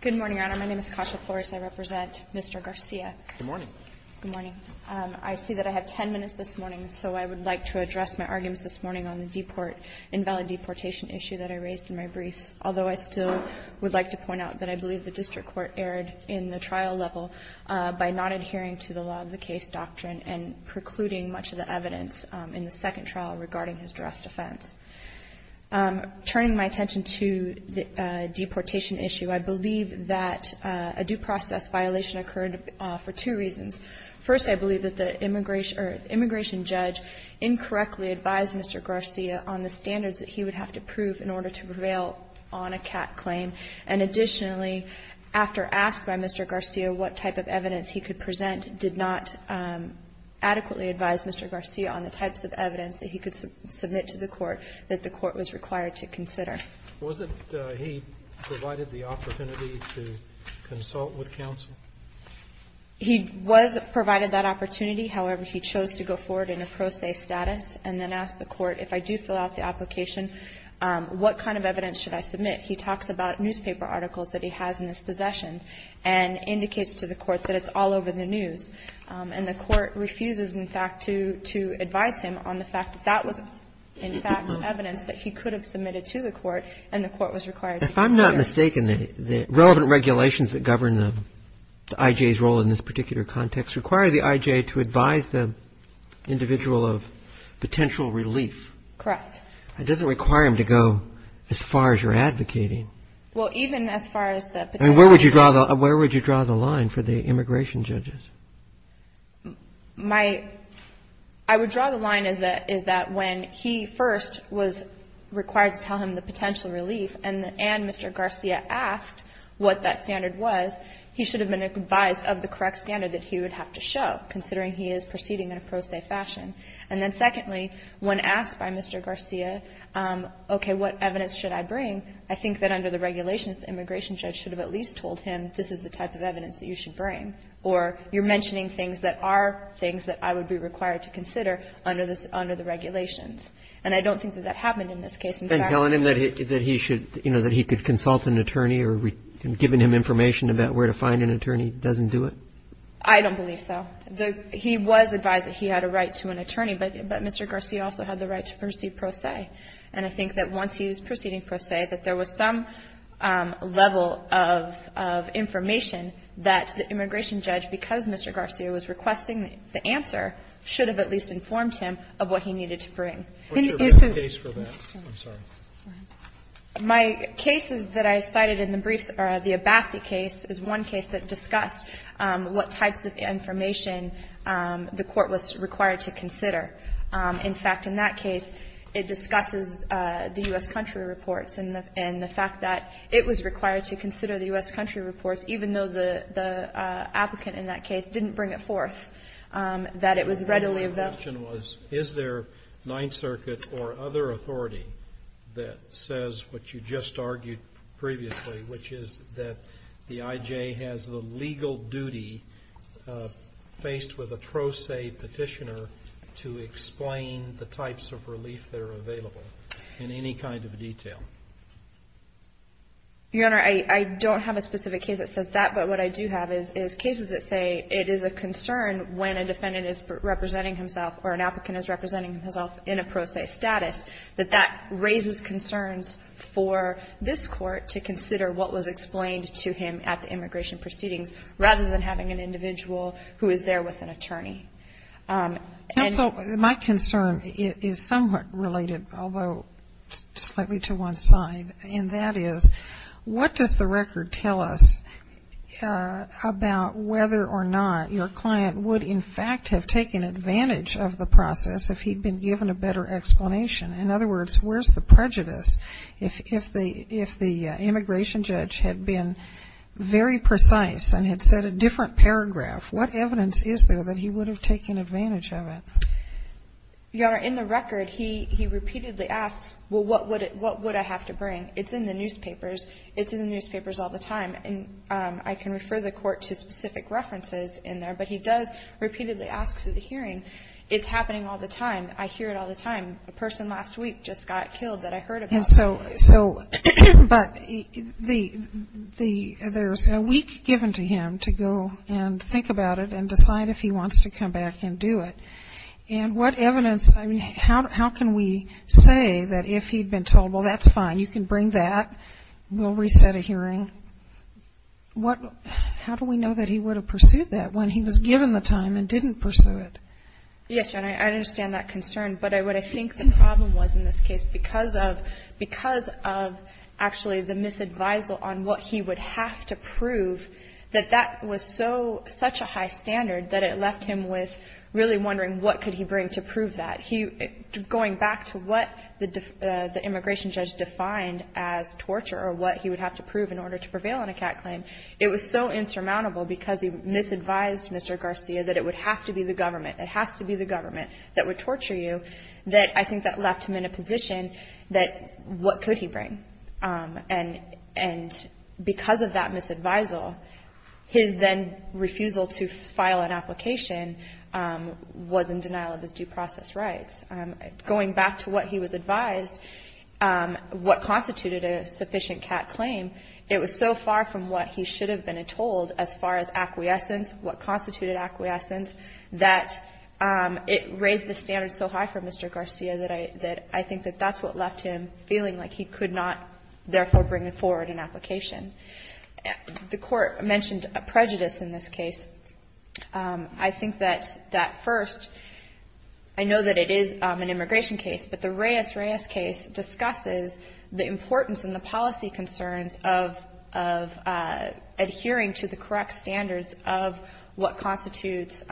Good morning, Your Honor. My name is Kasha Flores. I represent Mr. Garcia. Good morning. Good morning. I see that I have ten minutes this morning, so I would like to address my raised in my briefs, although I still would like to point out that I believe the district court erred in the trial level by not adhering to the law of the case doctrine and precluding much of the evidence in the second trial regarding his dressed offense. Turning my attention to the deportation issue, I believe that a due process violation occurred for two reasons. First, I believe that the immigration judge incorrectly advised Mr. Garcia on the standards that he would have to prove in order to prevail on a CAT claim. And additionally, after asked by Mr. Garcia what type of evidence he could present, did not adequately advise Mr. Garcia on the types of evidence that he could submit to the court that the court was required to consider. Was it he provided the opportunity to consult with counsel? He was provided that opportunity. However, he chose to go forward in a pro se status and then ask the court, if I do fill out the application, what kind of evidence should I submit? He talks about newspaper articles that he has in his possession and indicates to the court that it's all over the news. And the court refuses, in fact, to advise him on the fact that that was, in fact, evidence that he could have submitted to the court and the court was required to consider. If I'm not mistaken, the relevant regulations that govern the I.J.'s role in this Correct. It doesn't require him to go as far as you're advocating. Well, even as far as the potential relief. I mean, where would you draw the line for the immigration judges? My – I would draw the line is that when he first was required to tell him the potential relief and Mr. Garcia asked what that standard was, he should have been advised of the correct standard that he would have to show, considering he is proceeding in a pro se fashion. And then secondly, when asked by Mr. Garcia, okay, what evidence should I bring, I think that under the regulations the immigration judge should have at least told him this is the type of evidence that you should bring. Or you're mentioning things that are things that I would be required to consider under the regulations. And I don't think that that happened in this case. And telling him that he should, you know, that he could consult an attorney or giving him information about where to find an attorney doesn't do it? I don't believe so. He was advised that he had a right to an attorney, but Mr. Garcia also had the right to proceed pro se. And I think that once he's proceeding pro se, that there was some level of information that the immigration judge, because Mr. Garcia was requesting the answer, should have at least informed him of what he needed to bring. Can you use the ---- What's your brief case for that? I'm sorry. My case is that I cited in the briefs or the Abbasi case is one case that discussed what types of information the court was required to consider. In fact, in that case, it discusses the U.S. country reports and the fact that it was required to consider the U.S. country reports, even though the applicant in that case didn't bring it forth, that it was readily available. My question was, is there Ninth Circuit or other authority that says what you just faced with a pro se petitioner to explain the types of relief that are available in any kind of detail? Your Honor, I don't have a specific case that says that, but what I do have is cases that say it is a concern when a defendant is representing himself or an applicant is representing himself in a pro se status, that that raises concerns for this court to consider what was explained to him at the immigration proceedings, rather than having an individual who is there with an attorney. Counsel, my concern is somewhat related, although slightly to one side, and that is, what does the record tell us about whether or not your client would, in fact, have taken advantage of the process if he'd been given a better explanation? In other words, where's the prejudice if the immigration judge had been very precise and had said a different paragraph? What evidence is there that he would have taken advantage of it? Your Honor, in the record, he repeatedly asks, well, what would I have to bring? It's in the newspapers. It's in the newspapers all the time. And I can refer the Court to specific references in there, but he does repeatedly ask through the hearing, it's happening all the time. I hear it all the time. A person last week just got killed that I heard about. So, but there's a week given to him to go and think about it and decide if he wants to come back and do it. And what evidence, I mean, how can we say that if he'd been told, well, that's fine, you can bring that, we'll reset a hearing. How do we know that he would have pursued that when he was given the time and didn't pursue it? Yes, Your Honor, I understand that concern. But what I think the problem was in this case, because of, because of actually the misadvisal on what he would have to prove, that that was so, such a high standard that it left him with really wondering what could he bring to prove that. He, going back to what the immigration judge defined as torture or what he would have to prove in order to prevail on a CAT claim, it was so insurmountable because he misadvised Mr. Garcia that it would have to be the government, it has to be the government that would torture you, that I think that left him in a position that what could he bring. And because of that misadvisal, his then refusal to file an application was in denial of his due process rights. Going back to what he was advised, what constituted a sufficient CAT claim, it was so far from what he should have been told as far as acquiescence, what constituted acquiescence, that it raised the standard so high for Mr. Garcia that I, that I think that that's what left him feeling like he could not therefore bring forward an application. The Court mentioned a prejudice in this case. I think that that first, I know that it is an immigration case, but the Reyes-Reyes case discusses the importance and the policy concerns of, of adhering to the correct standards of what constitutes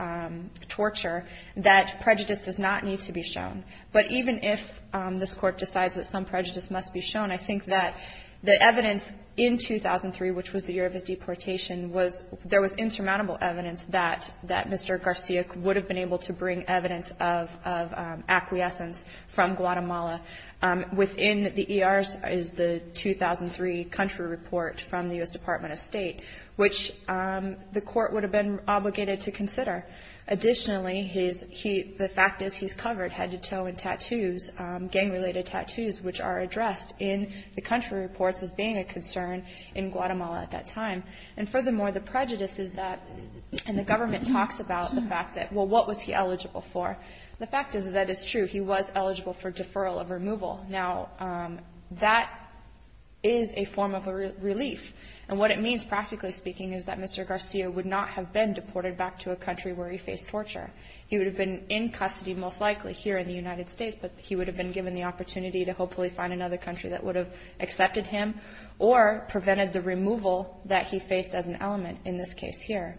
torture, that prejudice does not need to be shown. But even if this Court decides that some prejudice must be shown, I think that the evidence in 2003, which was the year of his deportation, was, there was insurmountable evidence that, that Mr. Garcia would have been able to bring evidence of, of acquiescence from Guatemala. Within the ERs is the 2003 country report from the U.S. Department of State, which the Court would have been obligated to consider. Additionally, his, he, the fact is he's covered head to toe in tattoos, gang-related tattoos, which are addressed in the country reports as being a concern in Guatemala at that time. And furthermore, the prejudice is that, and the government talks about the fact that, well, what was he eligible for? The fact is that it's true. He was eligible for deferral of removal. Now, that is a form of a relief. And what it means, practically speaking, is that Mr. Garcia would not have been deported back to a country where he faced torture. He would have been in custody most likely here in the United States, but he would have been given the opportunity to hopefully find another country that would have accepted him or prevented the removal that he faced as an element in this case here.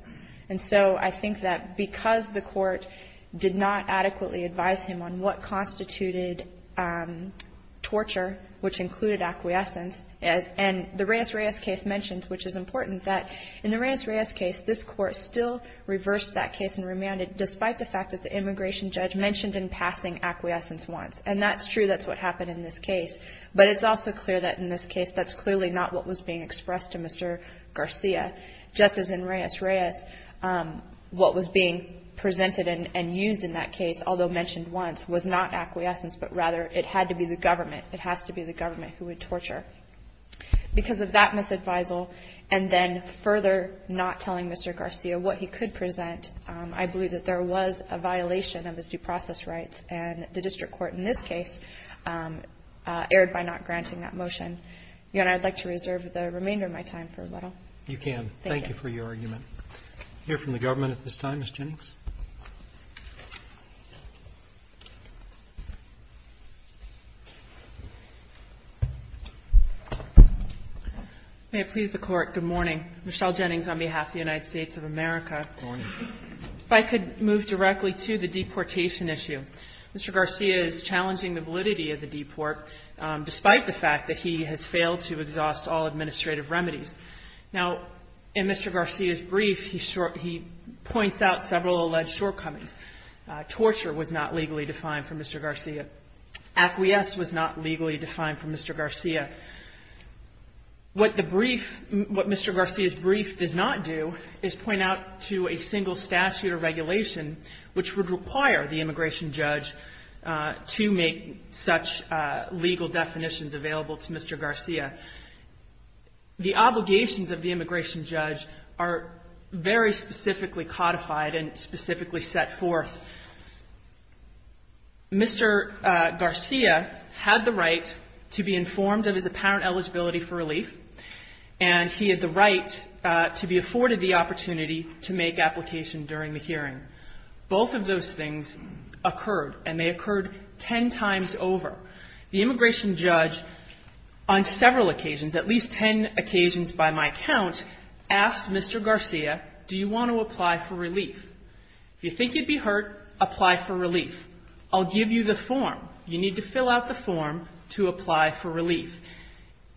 And so I think that because the Court did not adequately advise him on what constituted torture, which included acquiescence, and the Reyes-Reyes case mentions, which is important, that in the Reyes-Reyes case, this Court still reversed that case and remanded, despite the fact that the immigration judge mentioned in passing acquiescence once. And that's true. That's what happened in this case. But it's also clear that in this case that's clearly not what was being expressed to Mr. Garcia. Just as in Reyes-Reyes, what was being presented and used in that case, although mentioned once, was not acquiescence, but rather it had to be the government. It has to be the government who would torture. Because of that misadvisal and then further not telling Mr. Garcia what he could present, I believe that there was a violation of his due process rights. And the district court in this case erred by not granting that motion. Your Honor, I'd like to reserve the remainder of my time for a little. Robertson, you can. Thank you for your argument. Hear from the government at this time, Ms. Jennings. Jennings. May it please the Court, good morning. Michelle Jennings on behalf of the United States of America. Good morning. If I could move directly to the deportation issue. Mr. Garcia is challenging the validity of the deport, despite the fact that he has failed to exhaust all administrative remedies. Now, in Mr. Garcia's brief, he points out several alleged shortcomings. Torture was not legally defined for Mr. Garcia. Acquiesce was not legally defined for Mr. Garcia. What the brief, what Mr. Garcia's brief does not do is point out to a single statute or regulation which would require the immigration judge to make such legal definitions available to Mr. Garcia. The obligations of the immigration judge are very specifically codified and specifically set forth. Mr. Garcia had the right to be informed of his apparent eligibility for relief, and he had the right to be afforded the opportunity to make application during the hearing. Both of those things occurred, and they occurred ten times over. The immigration judge, on several occasions, at least ten occasions by my count, asked Mr. Garcia, do you want to apply for relief? If you think you'd be hurt, apply for relief. I'll give you the form. You need to fill out the form to apply for relief.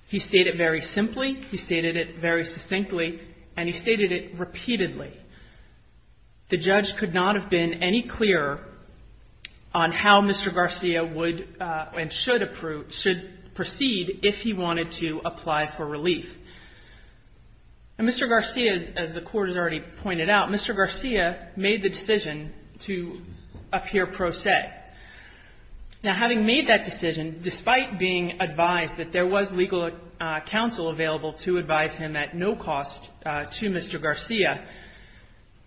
He stated it very simply, he stated it very succinctly, and he stated it repeatedly. The judge could not have been any clearer on how Mr. Garcia would and should proceed if he wanted to apply for relief. And Mr. Garcia, as the Court has already pointed out, Mr. Garcia made the decision to appear pro se. Now, having made that decision, despite being advised that there was legal counsel available to advise him at no cost to Mr. Garcia,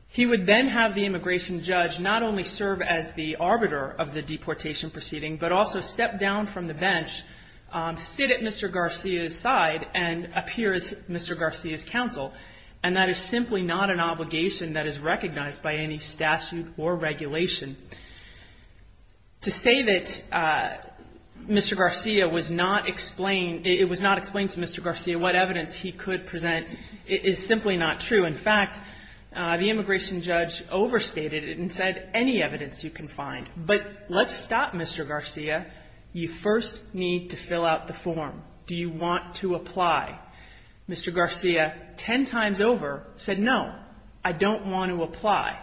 he would then have the immigration judge not only serve as the arbiter of the deportation proceeding, but also step down from the bench, sit at Mr. Garcia's side, and appear as Mr. Garcia's counsel. And that is simply not an obligation that is recognized by any statute or regulation. To say that Mr. Garcia was not explained, it was not explained to Mr. Garcia what evidence he could present is simply not true. In fact, the immigration judge overstated it and said any evidence you can find. But let's stop Mr. Garcia. You first need to fill out the form. Do you want to apply? Mr. Garcia, ten times over, said no, I don't want to apply.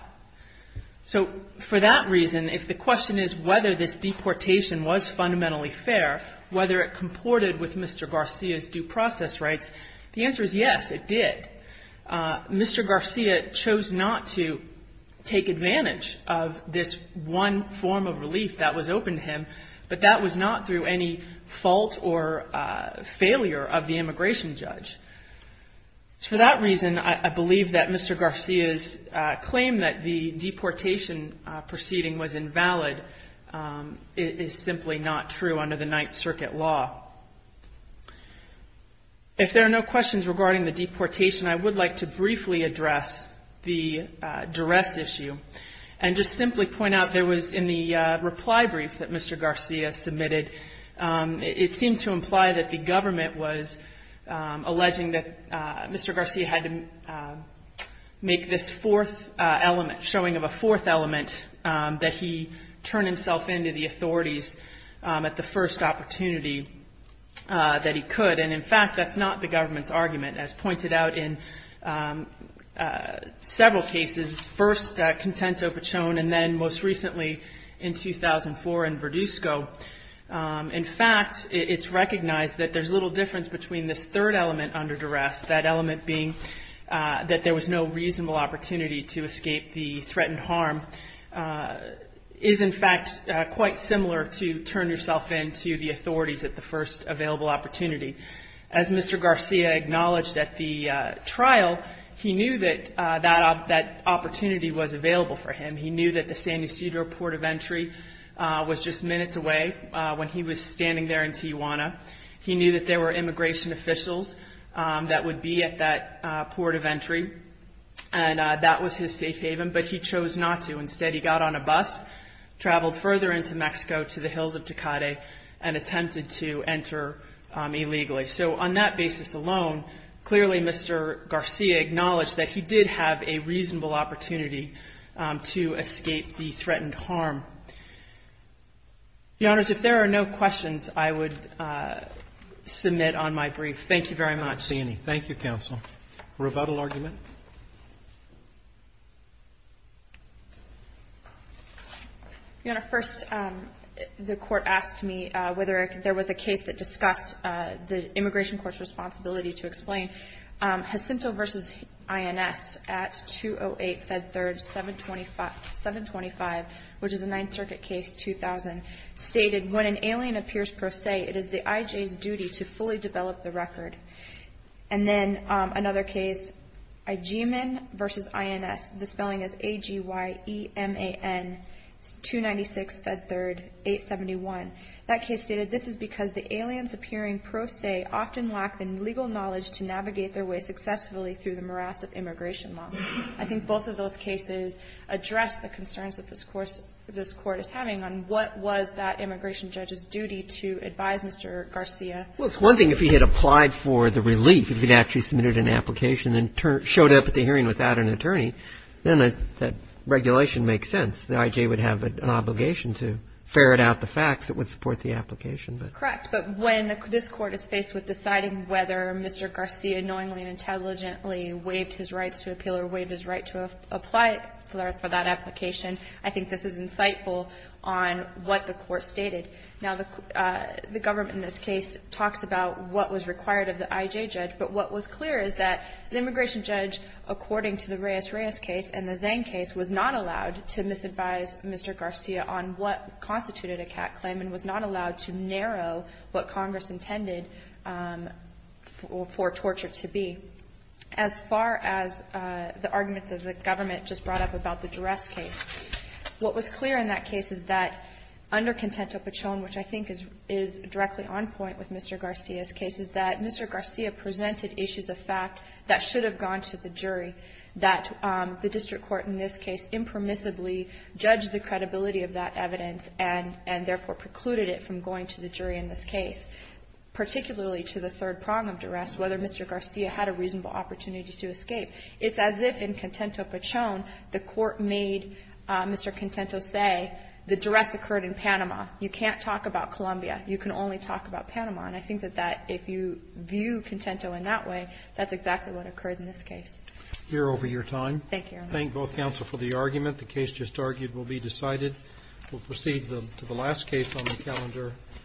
So for that reason, if the question is whether this deportation was fundamentally fair, whether it comported with Mr. Garcia's due process rights, the answer is yes, it did. Mr. Garcia chose not to take advantage of this one form of relief that was open to him, but that was not through any fault or failure of the immigration judge. For that reason, I believe that Mr. Garcia's claim that the deportation proceeding was invalid is simply not true under the Ninth Circuit law. If there are no questions regarding the deportation, I would like to briefly address the duress issue and just simply point out there was, in the reply brief that Mr. Garcia submitted, it seemed to imply that the government was alleging that Mr. Garcia had to make this fourth element, showing of a fourth element, that he turned himself in to the authorities at the first opportunity that he could. And in fact, that's not the government's argument. As pointed out in several cases, first at Contento, Pochon, and then most recently in 2004 in Verduzco, in fact, it's recognized that there's little difference between this third element under duress, that element being that there was no reasonable opportunity to escape the threatened harm, is in fact quite similar to turn yourself in to the authorities at the first available opportunity. As Mr. Garcia acknowledged at the trial, he knew that that opportunity was available for him. He knew that the San Ysidro port of entry was just minutes away when he was standing there in Tijuana. He knew that there were immigration officials that would be at that port of entry, and that was his safe haven, but he chose not to. Instead, he got on a bus, traveled further into Mexico to the hills of Tecate, and attempted to enter illegally. So on that basis alone, clearly Mr. Garcia acknowledged that he did have a reasonable opportunity to escape the threatened harm. Your Honors, if there are no questions, I would submit on my brief. Thank you very much. Roberts. Thank you, counsel. Rebuttal argument? Your Honor, first the Court asked me whether there was a case that discussed the immigration court's responsibility to explain. Jacinto v. INS at 208 Fed 3rd, 725, which is a Ninth Circuit case, 2000, stated, when an alien appears pro se, it is the IJ's duty to fully develop the record. And then another case, Ijiman v. INS, the spelling is A-G-Y-E-M-A-N, 296 Fed 3rd, 871. That case stated, this is because the aliens appearing pro se often lack the legal knowledge to navigate their way successfully through the morass of immigration law. I think both of those cases address the concerns that this Court is having on what was that immigration judge's duty to advise Mr. Garcia. Well, it's one thing if he had applied for the relief, if he had actually submitted an application and showed up at the hearing without an attorney, then that regulation makes sense. The IJ would have an obligation to ferret out the facts that would support the application. Correct. But when this Court is faced with deciding whether Mr. Garcia knowingly and intelligently waived his rights to appeal or waived his right to apply for that application, I think this is insightful on what the Court stated. Now, the government in this case talks about what was required of the IJ judge. But what was clear is that the immigration judge, according to the Reyes-Reyes case and the Zane case, was not allowed to misadvise Mr. Garcia on what constituted a cat claim and was not allowed to narrow what Congress intended for torture to be. As far as the argument that the government just brought up about the duress case, what was clear in that case is that under Contento-Pachon, which I think is directly on point with Mr. Garcia's case, is that Mr. Garcia presented issues of fact that should have gone to the jury, that the district court in this case impermissibly judged the credibility of that evidence and therefore precluded it from going to the jury in this case, particularly to the third prong of duress, whether Mr. Garcia had a reasonable opportunity to escape. It's as if in Contento-Pachon the Court made Mr. Contento say the duress occurred in Panama. You can only talk about Panama. And I think that if you view Contento in that way, that's exactly what occurred in this case. Here over your time. Thank you. Thank both counsel for the argument. The case just argued will be decided. We'll proceed to the last case on the calendar.